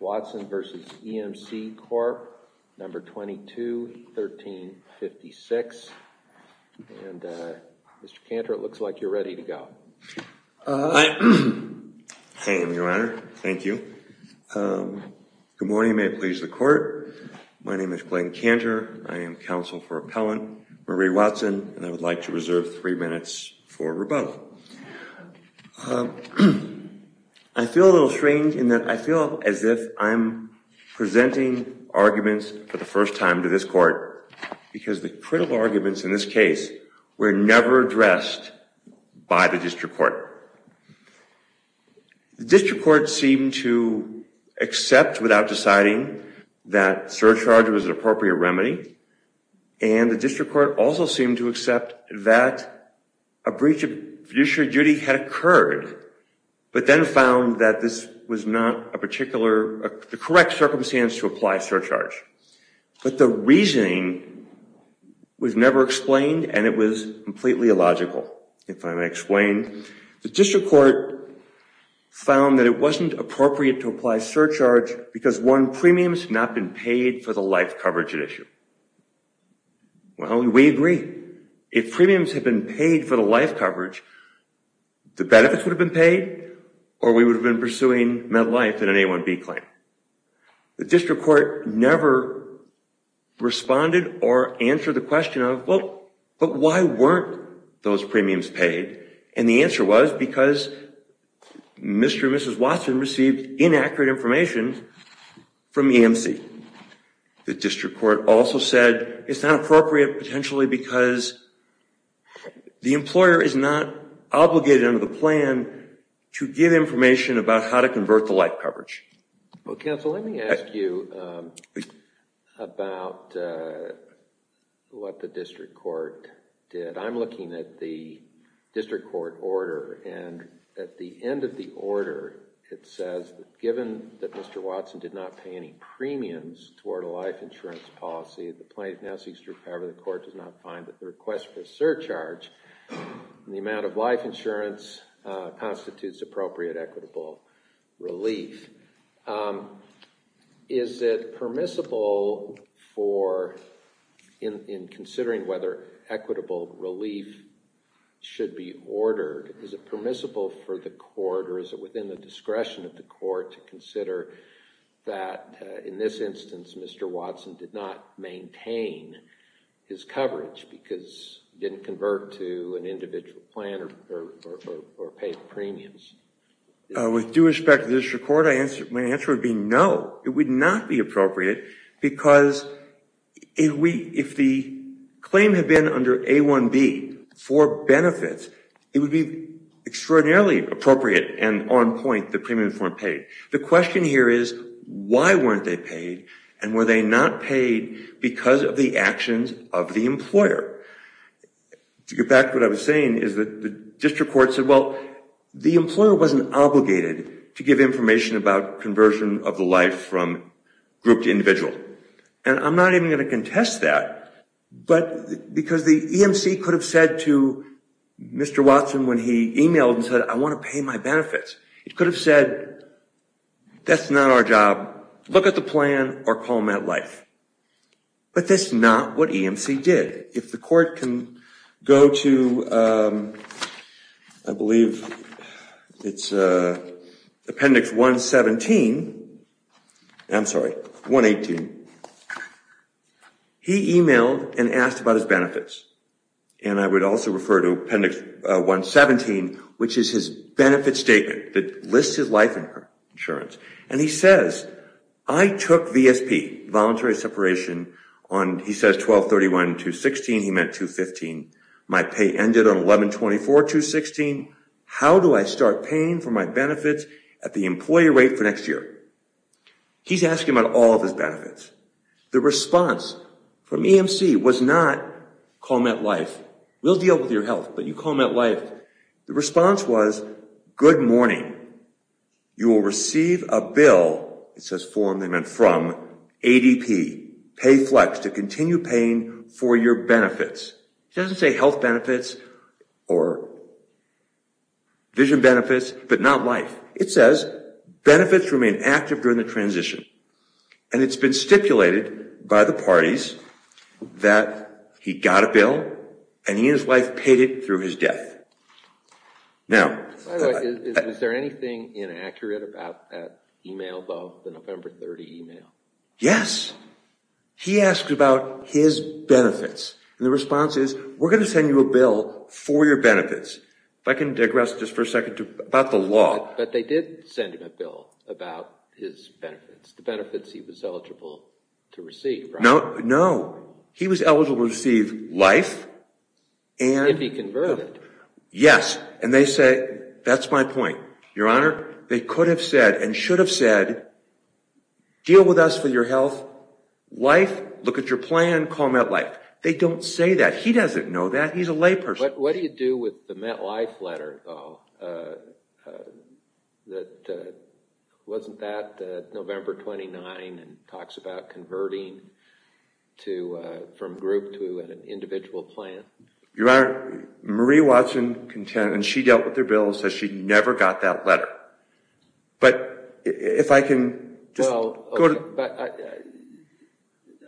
Watson v. EMC Corp. No. 22-1356, and Mr. Cantor, it looks like you're ready to go. Hi, Your Honor. Thank you. Good morning. May it please the Court. My name is Glenn Cantor. I am counsel for Appellant Marie Watson, and I would like to reserve three minutes for rebuttal. I feel a little strange in that I feel as if I'm presenting arguments for the first time to this Court, because the critical arguments in this case were never addressed by the District Court. The District Court seemed to accept without deciding that surcharge was an appropriate remedy, and the District Court also seemed to accept that a breach of fiduciary duty had occurred, but then found that this was not the correct circumstance to apply surcharge. But the reasoning was never explained, and it was completely illogical, if I may explain. The District Court found that it wasn't appropriate to apply surcharge because, one, premiums had not been paid for the life coverage at issue. Well, we agree. If premiums had been paid for the life coverage, the benefits would have been paid, or we would have been pursuing med life in an A1B claim. The District Court never responded or answered the question of, well, but why weren't those premiums paid? And the answer was because Mr. and Mrs. Watson received inaccurate information from EMC. The District Court also said it's not appropriate, potentially, because the employer is not obligated under the plan to give information about how to convert the life coverage. Well, counsel, let me ask you about what the District Court did. I'm looking at the District Court order, and at the end of the order, it says that given that Mr. Watson did not pay any premiums toward a life insurance policy, the plaintiff now seeks to recover. However, the court does not find that the request for surcharge in the amount of life insurance constitutes appropriate equitable relief. Is it permissible for, in considering whether equitable relief should be ordered, is it permissible for the court, or is it within the discretion of the court, to consider that, in this instance, Mr. Watson did not maintain his coverage because he didn't convert to an individual plan or pay premiums? With due respect to the District Court, my answer would be no. It would not be appropriate because if the claim had been under A1B for benefits, it would be extraordinarily appropriate and on point that premiums weren't paid. The question here is, why weren't they paid, and were they not paid because of the actions of the employer? To get back to what I was saying is that the District Court said, well, the employer wasn't obligated to give information about conversion of the life from group to individual. And I'm not even going to contest that because the EMC could have said to Mr. Watson when he emailed and said, I want to pay my benefits. It could have said, that's not our job. Look at the plan or call MetLife. But that's not what EMC did. If the court can go to, I believe it's Appendix 117. I'm sorry, 118. He emailed and asked about his benefits. And I would also refer to Appendix 117, which is his benefit statement that lists his life insurance. And he says, I took VSP, voluntary separation, on, he says, 12-31-216. He meant 215. My pay ended on 11-24-216. How do I start paying for my benefits at the employer rate for next year? He's asking about all of his benefits. The response from EMC was not, call MetLife. We'll deal with your health, but you call MetLife. The response was, good morning. You will receive a bill from ADP, pay flex, to continue paying for your benefits. He doesn't say health benefits or vision benefits, but not life. It says, benefits remain active during the transition. And it's been stipulated by the parties that he got a bill and he and his wife paid it through his death. By the way, is there anything inaccurate about that email, though, the November 30 email? Yes. He asked about his benefits. And the response is, we're going to send you a bill for your benefits. If I can digress just for a second about the law. But they did send him a bill about his benefits, the benefits he was eligible to receive, right? No. He was eligible to receive life. If he converted. Yes. And they say, that's my point, Your Honor. They could have said and should have said, deal with us for your health. Life, look at your plan, call MetLife. They don't say that. He doesn't know that. He's a layperson. What do you do with the MetLife letter, though, that wasn't that November 29 and talks about converting from group to an individual plan? Your Honor, Marie Watson contends, and she dealt with their bill and says she never got that letter. But if I can just go to. Well,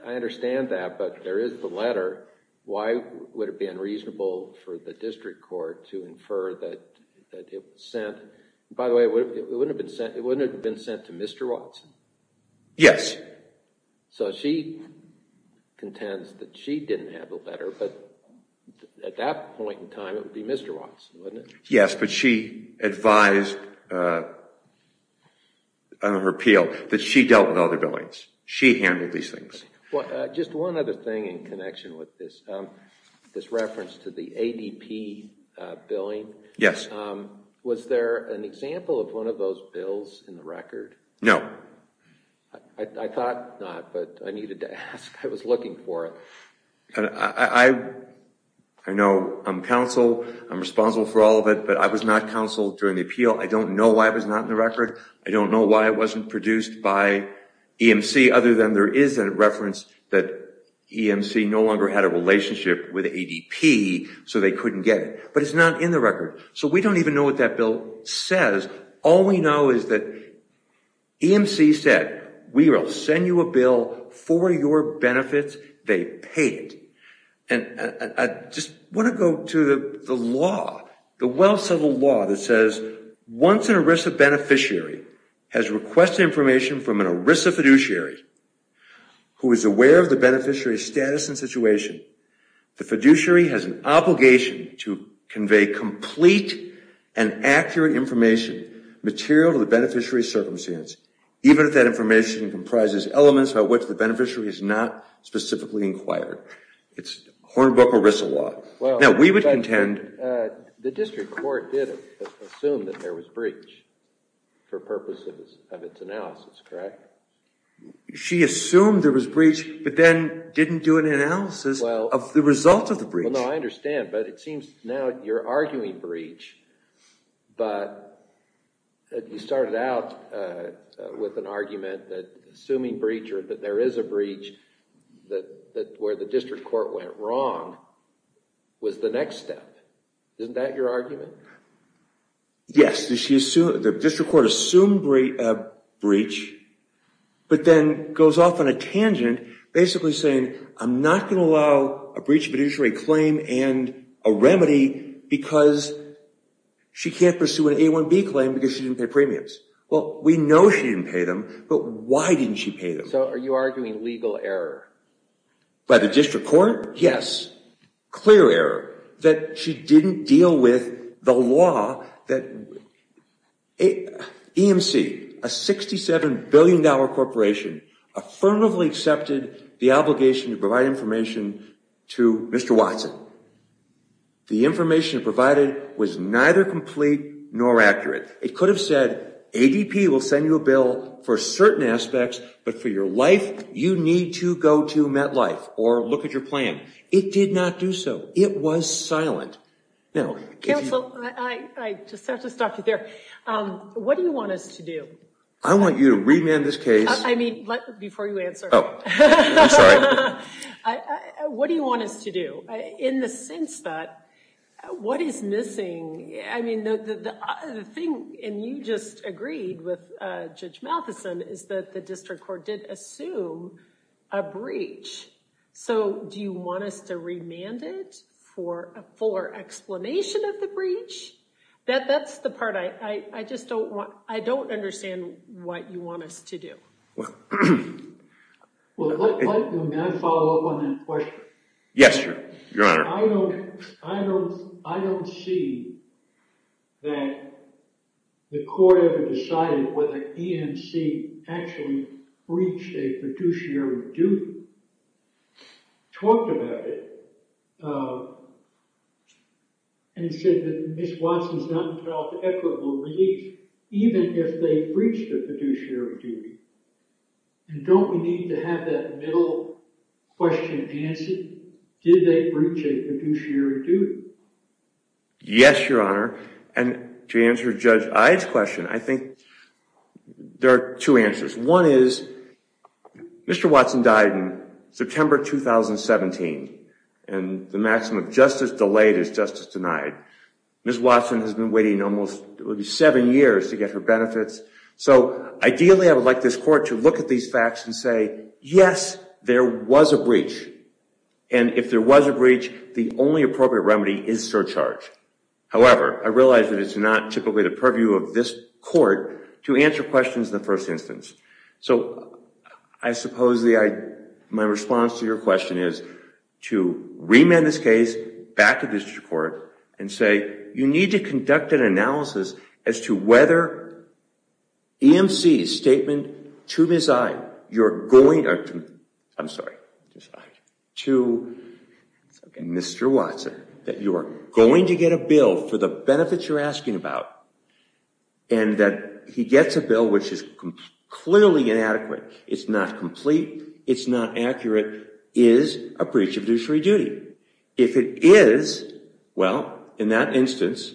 I understand that, but there is the letter. Why would it be unreasonable for the district court to infer that it was sent? By the way, it wouldn't have been sent to Mr. Watson? Yes. So she contends that she didn't have the letter, but at that point in time, it would be Mr. Watson, wouldn't it? Yes, but she advised under her appeal that she dealt with other billings. She handled these things. Just one other thing in connection with this, this reference to the ADP billing. Yes. Was there an example of one of those bills in the record? No. I thought not, but I needed to ask. I was looking for it. I know I'm counsel. I'm responsible for all of it, but I was not counsel during the appeal. I don't know why it was not in the record. I don't know why it wasn't produced by EMC other than there is a reference that EMC no longer had a relationship with ADP, so they couldn't get it. But it's not in the record, so we don't even know what that bill says. All we know is that EMC said, we will send you a bill for your benefits. They paid it, and I just want to go to the law, the well-settled law that says once an ERISA beneficiary has requested information from an ERISA fiduciary who is aware of the beneficiary's status and situation, the fiduciary has an obligation to convey complete and accurate information material to the beneficiary's circumstance, even if that information comprises elements about which the beneficiary has not specifically inquired. It's Hornbrook or Rissel law. The district court did assume that there was breach for purposes of its analysis, correct? She assumed there was breach, but then didn't do an analysis of the result of the breach. I understand, but it seems now you're arguing breach, but you started out with an argument that assuming breach or that there is a breach where the district court went wrong was the next step. Isn't that your argument? Yes, the district court assumed breach, but then goes off on a tangent basically saying, I'm not going to allow a breach of a fiduciary claim and a remedy because she can't pursue an A1B claim because she didn't pay premiums. Well, we know she didn't pay them, but why didn't she pay them? So are you arguing legal error? By the district court? Yes. Clear error that she didn't deal with the law that EMC, a $67 billion corporation, affirmatively accepted the obligation to provide information to Mr. Watson. The information provided was neither complete nor accurate. It could have said ADP will send you a bill for certain aspects, but for your life, you need to go to MetLife or look at your plan. It did not do so. It was silent. Counsel, I just have to stop you there. What do you want us to do? I want you to remand this case. I mean, before you answer. I'm sorry. What do you want us to do in the sense that what is missing? I mean, the thing, and you just agreed with Judge Matheson, is that the district court did assume a breach. So do you want us to remand it for a fuller explanation of the breach? That's the part I just don't want. I don't understand what you want us to do. Well, can I follow up on that question? Yes, Your Honor. I don't see that the court ever decided whether EMC actually breached a fiduciary duty. Talked about it and said that Ms. Watson's not entitled to equitable relief, even if they breached a fiduciary duty. And don't we need to have that middle question answered? Did they breach a fiduciary duty? Yes, Your Honor. And to answer Judge Ide's question, I think there are two answers. One is, Mr. Watson died in September 2017. And the maximum justice delayed is justice denied. Ms. Watson has been waiting almost seven years to get her benefits. So ideally, I would like this court to look at these facts and say, yes, there was a breach. And if there was a breach, the only appropriate remedy is surcharge. However, I realize that it's not typically the purview of this court to answer questions in the first instance. So I suppose my response to your question is to remand this case back to district court and say, you need to conduct an analysis as to whether EMC's statement to Ms. Ide, you're going to, I'm sorry, to Mr. Watson that you are going to get a bill for the benefits you're asking about and that he gets a bill which is clearly inadequate. It's not complete. It's not accurate. Is a breach of fiduciary duty. If it is, well, in that instance,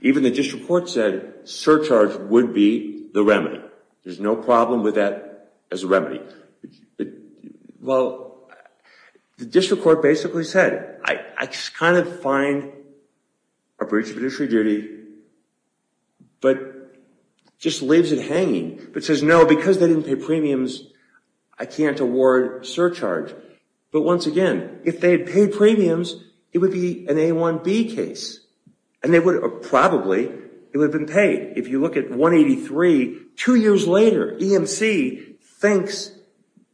even the district court said surcharge would be the remedy. There's no problem with that as a remedy. Well, the district court basically said, I kind of find a breach of fiduciary duty, but just leaves it hanging. But says, no, because they didn't pay premiums, I can't award surcharge. But once again, if they had paid premiums, it would be an A1B case. And they would have probably, it would have been paid. If you look at 183, two years later, EMC thinks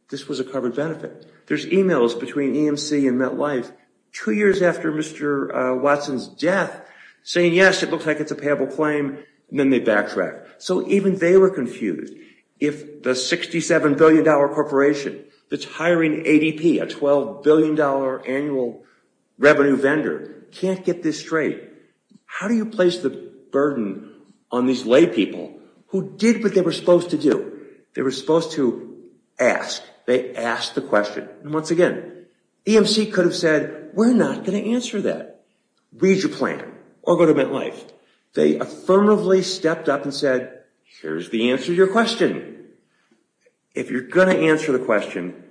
this was a covered benefit. There's emails between EMC and MetLife two years after Mr. Watson's death saying, yes, it looks like it's a payable claim, and then they backtrack. So even they were confused. If the $67 billion corporation that's hiring ADP, a $12 billion annual revenue vendor, can't get this straight, how do you place the burden on these laypeople who did what they were supposed to do? They were supposed to ask. They asked the question. And once again, EMC could have said, we're not going to answer that. Read your plan or go to MetLife. They affirmatively stepped up and said, here's the answer to your question. If you're going to answer the question,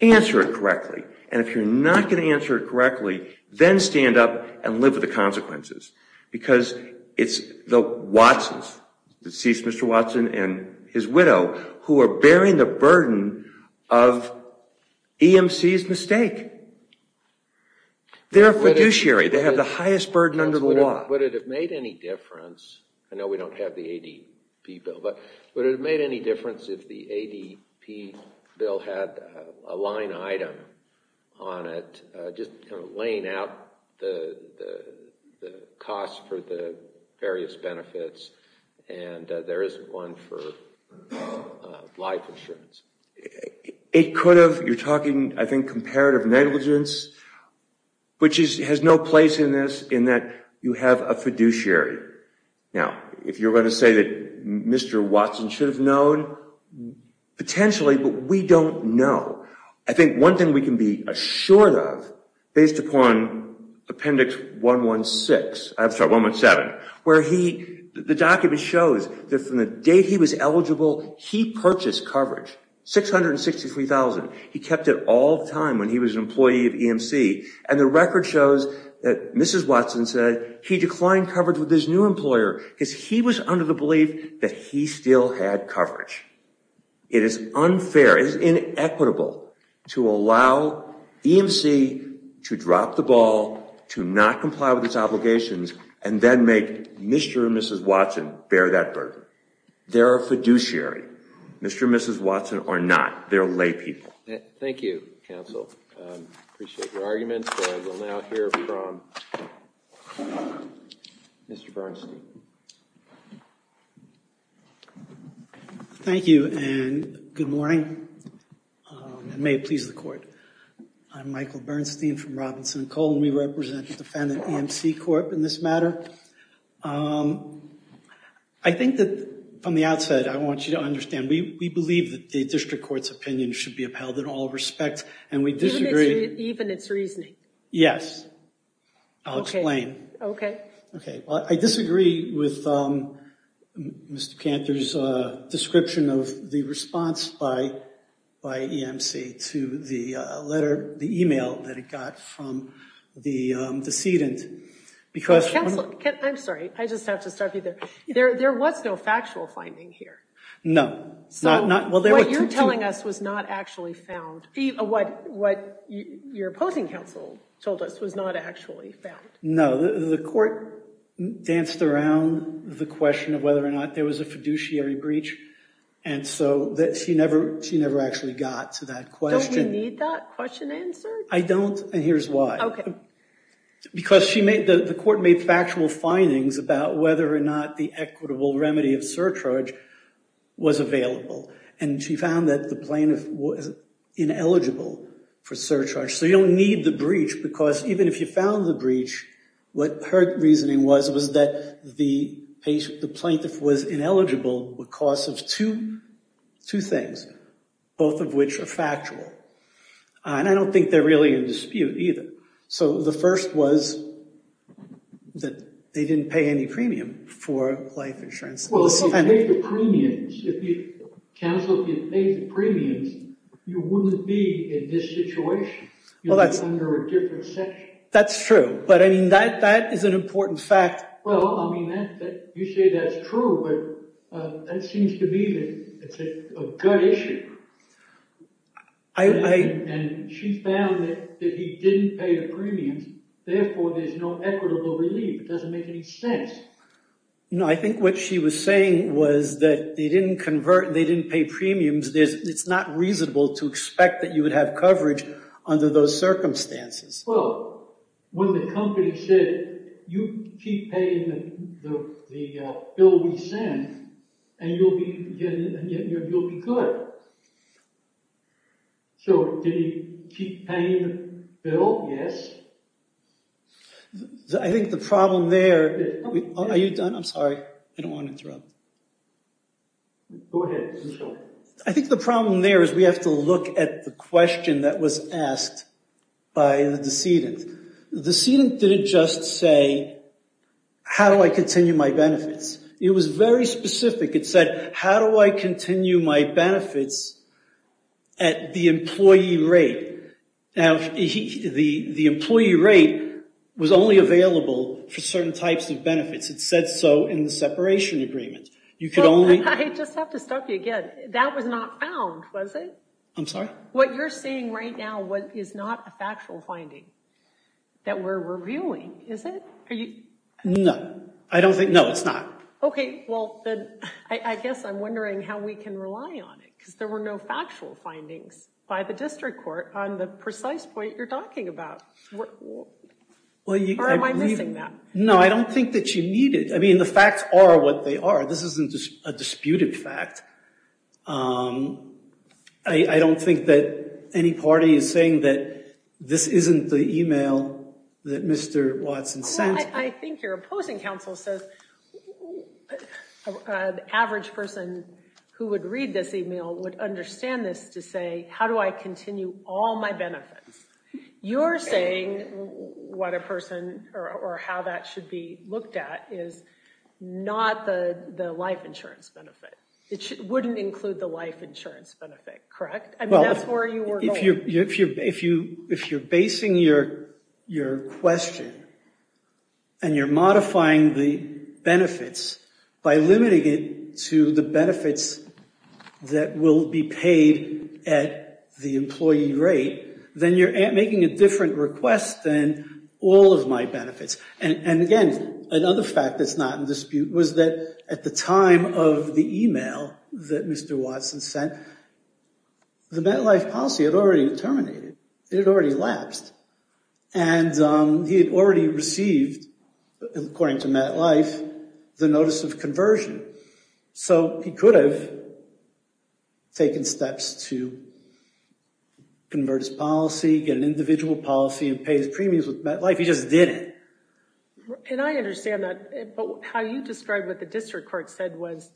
answer it correctly. And if you're not going to answer it correctly, then stand up and live with the consequences. Because it's the Watsons, deceased Mr. Watson and his widow, who are bearing the burden of EMC's mistake. They're a fiduciary. They have the highest burden under the law. Would it have made any difference? I know we don't have the ADP bill. But would it have made any difference if the ADP bill had a line item on it, just kind of laying out the costs for the various benefits and there isn't one for life insurance? It could have. You're talking, I think, comparative negligence, which has no place in this in that you have a fiduciary. Now, if you're going to say that Mr. Watson should have known, potentially, but we don't know. I think one thing we can be assured of, based upon Appendix 117, where the document shows that from the day he was eligible, he purchased coverage, $663,000. He kept it all the time when he was an employee of EMC. And the record shows that Mrs. Watson said he declined coverage with his new employer because he was under the belief that he still had coverage. It is unfair. It is inequitable to allow EMC to drop the ball, to not comply with its obligations, and then make Mr. and Mrs. Watson bear that burden. They're a fiduciary. Mr. and Mrs. Watson are not. Thank you. Thank you, counsel. Appreciate your arguments. And we'll now hear from Mr. Bernstein. Thank you, and good morning. And may it please the Court. I'm Michael Bernstein from Robinson & Cole, and we represent the defendant, EMC Corp., in this matter. I think that, from the outset, I want you to understand, we believe that the district court's opinion should be upheld in all respect, and we disagree. Even its reasoning? Yes. I'll explain. Okay. Okay. Well, I disagree with Mr. Cantor's description of the response by EMC to the letter, the email that it got from the decedent. Counsel, I'm sorry. I just have to stop you there. There was no factual finding here. No. What you're telling us was not actually found. What your opposing counsel told us was not actually found. No. The court danced around the question of whether or not there was a fiduciary breach, and so she never actually got to that question. Don't we need that question answered? I don't, and here's why. Okay. Because the court made factual findings about whether or not the equitable remedy of surcharge was available, and she found that the plaintiff was ineligible for surcharge. So you don't need the breach because even if you found the breach, what her reasoning was, was that the plaintiff was ineligible because of two things, both of which are factual. And I don't think they're really in dispute either. So the first was that they didn't pay any premium for life insurance. Well, if you paid the premiums, if counsel didn't pay the premiums, you wouldn't be in this situation. You'd be under a different section. That's true, but, I mean, that is an important fact. Well, I mean, you say that's true, but that seems to me that it's a gut issue. And she found that he didn't pay the premiums. Therefore, there's no equitable relief. It doesn't make any sense. No, I think what she was saying was that they didn't pay premiums. It's not reasonable to expect that you would have coverage under those circumstances. Well, when the company said, you keep paying the bill we send, and you'll be good. So did he keep paying the bill? Yes. I think the problem there—are you done? I'm sorry. I don't want to interrupt. Go ahead. I think the problem there is we have to look at the question that was asked by the decedent. The decedent didn't just say, how do I continue my benefits? It was very specific. It said, how do I continue my benefits at the employee rate? Now, the employee rate was only available for certain types of benefits. It said so in the separation agreement. I just have to stop you again. That was not found, was it? I'm sorry? What you're seeing right now is not a factual finding that we're reviewing, is it? No. I don't think—no, it's not. Okay, well, then I guess I'm wondering how we can rely on it because there were no factual findings by the district court on the precise point you're talking about. Or am I missing that? No, I don't think that you need it. I mean, the facts are what they are. This isn't a disputed fact. I don't think that any party is saying that this isn't the email that Mr. Watson sent. I think your opposing counsel says the average person who would read this email would understand this to say, how do I continue all my benefits? You're saying what a person—or how that should be looked at is not the life insurance benefit. It wouldn't include the life insurance benefit, correct? I mean, that's where you were going. If you're basing your question and you're modifying the benefits by limiting it to the benefits that will be paid at the employee rate, then you're making a different request than all of my benefits. And, again, another fact that's not in dispute was that at the time of the email that Mr. Watson sent, the MetLife policy had already terminated. It had already lapsed. And he had already received, according to MetLife, the notice of conversion. So he could have taken steps to convert his policy, get an individual policy, and pay his premiums with MetLife. He just didn't. And I understand that. But how you describe what the district court said was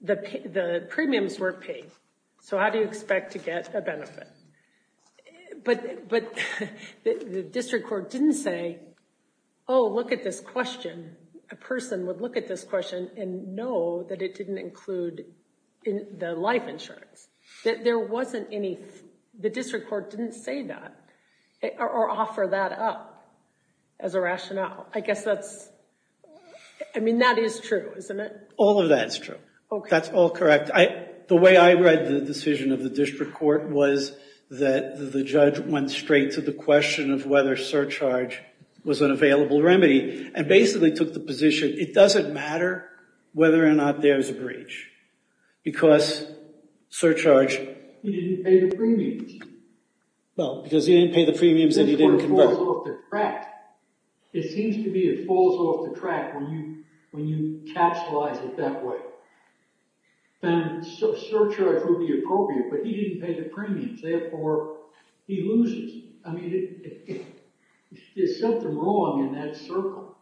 the premiums weren't paid. So how do you expect to get a benefit? But the district court didn't say, oh, look at this question. A person would look at this question and know that it didn't include the life insurance. The district court didn't say that or offer that up as a rationale. I guess that's, I mean, that is true, isn't it? All of that is true. That's all correct. The way I read the decision of the district court was that the judge went straight to the question of whether surcharge was an available remedy and basically took the position, it doesn't matter whether or not there's a breach because surcharge He didn't pay the premiums. Well, because he didn't pay the premiums that he didn't convert. The district court falls off the track. It seems to be it falls off the track when you capsulize it that way. And surcharge would be appropriate, but he didn't pay the premiums. Therefore, he loses. I mean, there's something wrong in that circle.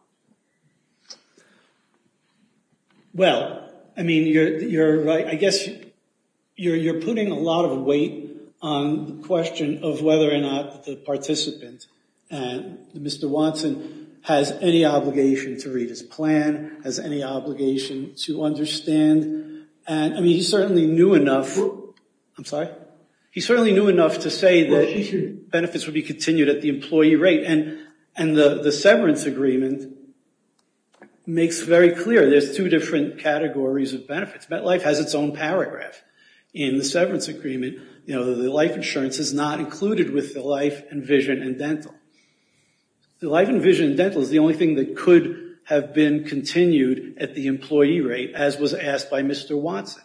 Well, I mean, you're right. I guess you're putting a lot of weight on the question of whether or not the participant, Mr. Watson, has any obligation to read his plan, has any obligation to understand. And I mean, he certainly knew enough. I'm sorry. He certainly knew enough to say that benefits would be continued at the employee rate. And the severance agreement makes very clear there's two different categories of benefits. MetLife has its own paragraph in the severance agreement. You know, the life insurance is not included with the life and vision and dental. The life and vision and dental is the only thing that could have been continued at the employee rate as was asked by Mr. Watson.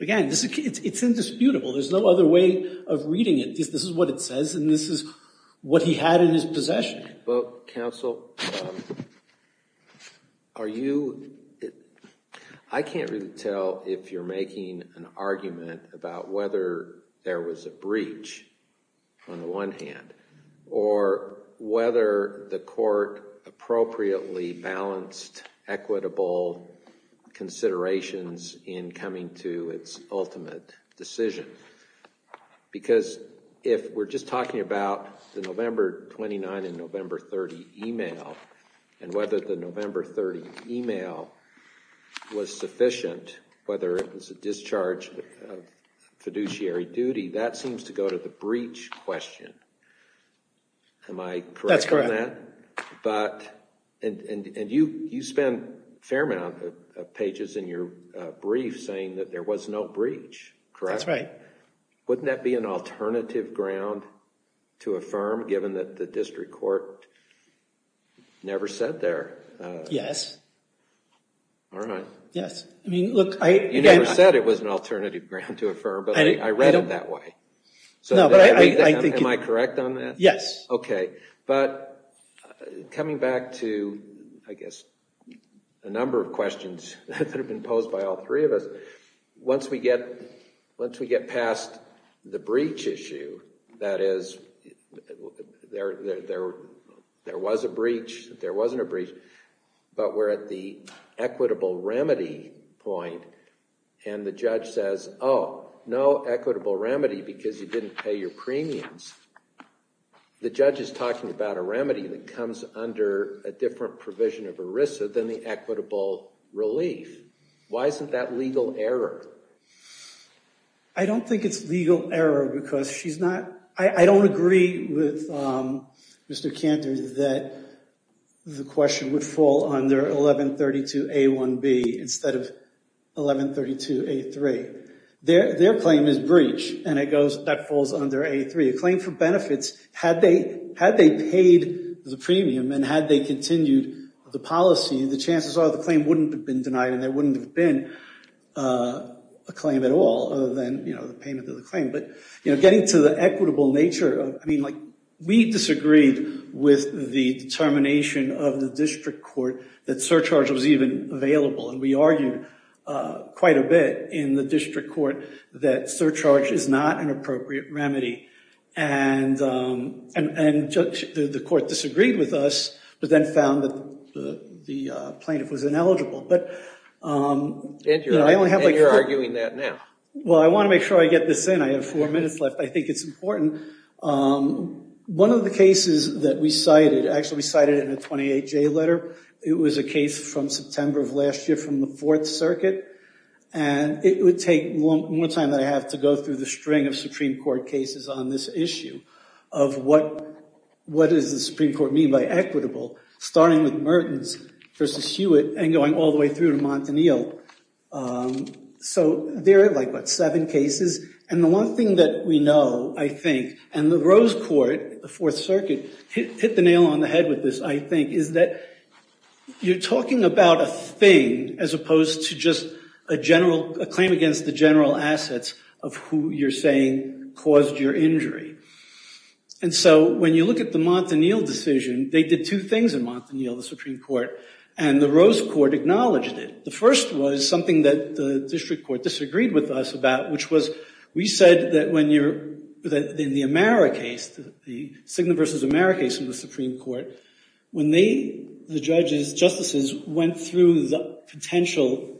Again, it's indisputable. There's no other way of reading it. This is what it says, and this is what he had in his possession. Well, counsel, are you – I can't really tell if you're making an argument about whether there was a breach on the one hand or whether the court appropriately balanced equitable considerations in coming to its ultimate decision. Because if we're just talking about the November 29 and November 30 email and whether the November 30 email was sufficient, whether it was a discharge of fiduciary duty, that seems to go to the breach question. Am I correct on that? That's correct. But – and you spend a fair amount of pages in your brief saying that there was no breach, correct? That's right. Wouldn't that be an alternative ground to affirm given that the district court never said there? Yes. All right. Yes. I mean, look – You never said it was an alternative ground to affirm, but I read it that way. No, but I think – Am I correct on that? Yes. Okay. But coming back to, I guess, a number of questions that have been posed by all three of us, once we get past the breach issue, that is, there was a breach, there wasn't a breach, but we're at the equitable remedy point and the judge says, oh, no equitable remedy because you didn't pay your premiums. The judge is talking about a remedy that comes under a different provision of ERISA than the equitable relief. Why isn't that legal error? I don't think it's legal error because she's not – I don't agree with Mr. Cantor that the question would fall under 1132A1B instead of 1132A3. Their claim is breach and it goes – that falls under A3. A claim for benefits, had they paid the premium and had they continued the policy, the chances are the claim wouldn't have been denied and there wouldn't have been a claim at all other than the payment of the claim. But getting to the equitable nature, we disagreed with the determination of the district court that surcharge was even available and we argued quite a bit in the district court that surcharge is not an appropriate remedy. And the court disagreed with us but then found that the plaintiff was ineligible. And you're arguing that now. Well, I want to make sure I get this in. I have four minutes left. I think it's important. One of the cases that we cited – actually, we cited it in the 28J letter. It was a case from September of last year from the Fourth Circuit. And it would take more time than I have to go through the string of Supreme Court cases on this issue of what does the Supreme Court mean by equitable, starting with Mertens versus Hewitt and going all the way through to Montanil. So there are like, what, seven cases? And the one thing that we know, I think, and the Rose Court, the Fourth Circuit, hit the nail on the head with this, I think, is that you're talking about a thing as opposed to just a claim against the general assets of who you're saying caused your injury. And so when you look at the Montanil decision, they did two things in Montanil, the Supreme Court, and the Rose Court acknowledged it. The first was something that the district court disagreed with us about, which was we said that when you're – in the Amara case, the Cigna versus Amara case in the Supreme Court, when they, the judges, justices, went through the potential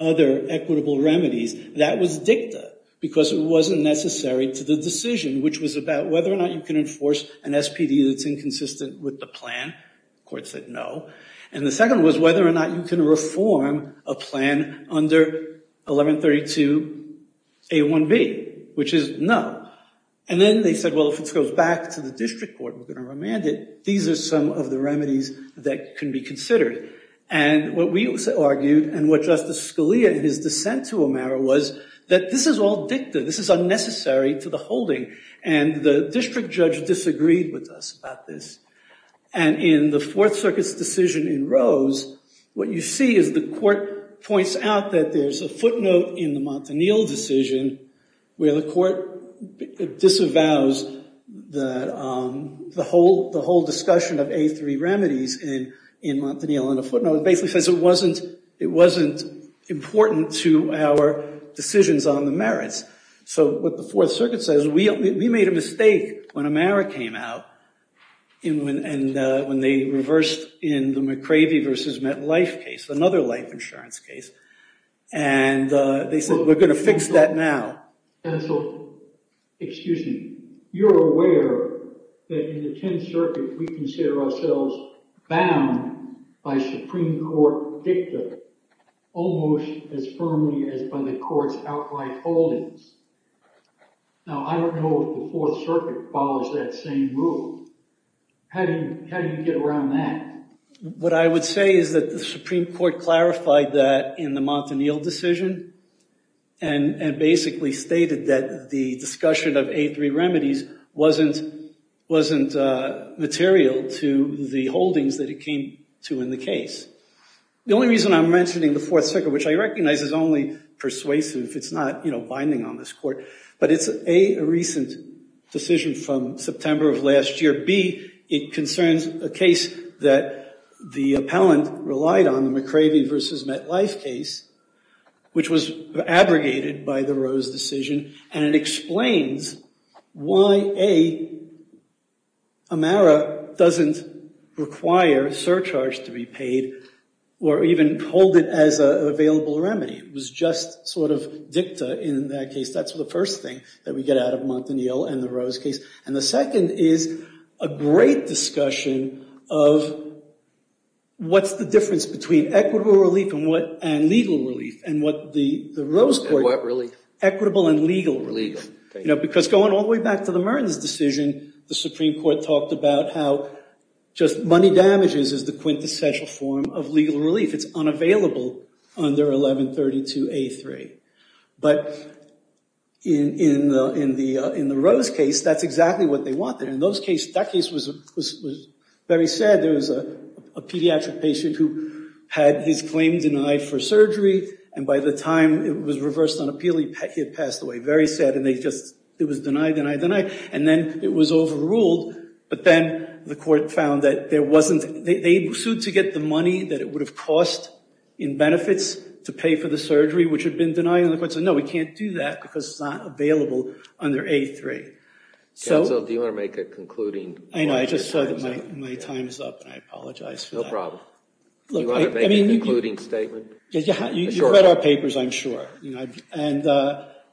other equitable remedies, that was dicta because it wasn't necessary to the decision, which was about whether or not you can enforce an SPD that's inconsistent with the plan. The court said no. And the second was whether or not you can reform a plan under 1132A1B, which is no. And then they said, well, if it goes back to the district court, we're going to remand it. These are some of the remedies that can be considered. And what we argued and what Justice Scalia, in his dissent to Amara, was that this is all dicta. This is unnecessary to the holding. And the district judge disagreed with us about this. And in the Fourth Circuit's decision in Rose, what you see is the court points out that there's a footnote in the Montanil decision where the court disavows the whole discussion of A3 remedies in Montanil. And the footnote basically says it wasn't important to our decisions on the merits. So what the Fourth Circuit says, we made a mistake when Amara came out and when they reversed in the McCravey versus MetLife case, another life insurance case. And they said, we're going to fix that now. Excuse me. You're aware that in the Tenth Circuit, we consider ourselves bound by Supreme Court dicta almost as firmly as by the court's outright holdings. Now, I don't know if the Fourth Circuit follows that same rule. How do you get around that? What I would say is that the Supreme Court clarified that in the Montanil decision and basically stated that the discussion of A3 remedies wasn't material to the holdings that it came to in the case. The only reason I'm mentioning the Fourth Circuit, which I recognize is only persuasive, it's not binding on this court, but it's A, a recent decision from September of last year. B, it concerns a case that the appellant relied on, the McCravey versus MetLife case, which was abrogated by the Rose decision. And it explains why, A, Amara doesn't require surcharge to be paid or even hold it as an available remedy. It was just sort of dicta in that case. That's the first thing that we get out of Montanil and the Rose case. And the second is a great discussion of what's the difference between equitable relief and legal relief and what the Rose court— And what relief? Equitable and legal relief. Because going all the way back to the Mertens decision, the Supreme Court talked about how just money damages is the quintessential form of legal relief. It's unavailable under 1132A3. But in the Rose case, that's exactly what they wanted. And that case was very sad. There was a pediatric patient who had his claim denied for surgery. And by the time it was reversed on appeal, he had passed away. Very sad. And it was denied, denied, denied. And then it was overruled. But then the court found that there wasn't—they sued to get the money that it would have cost in benefits to pay for the surgery, which had been denied. And the court said, no, we can't do that because it's not available under A3. Counsel, do you want to make a concluding— I know. I just saw that my time is up, and I apologize for that. No problem. Do you want to make a concluding statement? You've read our papers, I'm sure. And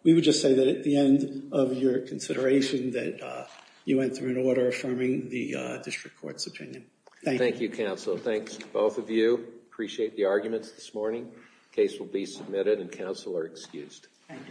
we would just say that at the end of your consideration that you went through an order affirming the district court's opinion. Thank you. Thank you, counsel. Thanks to both of you. Appreciate the arguments this morning. Case will be submitted, and counsel are excused.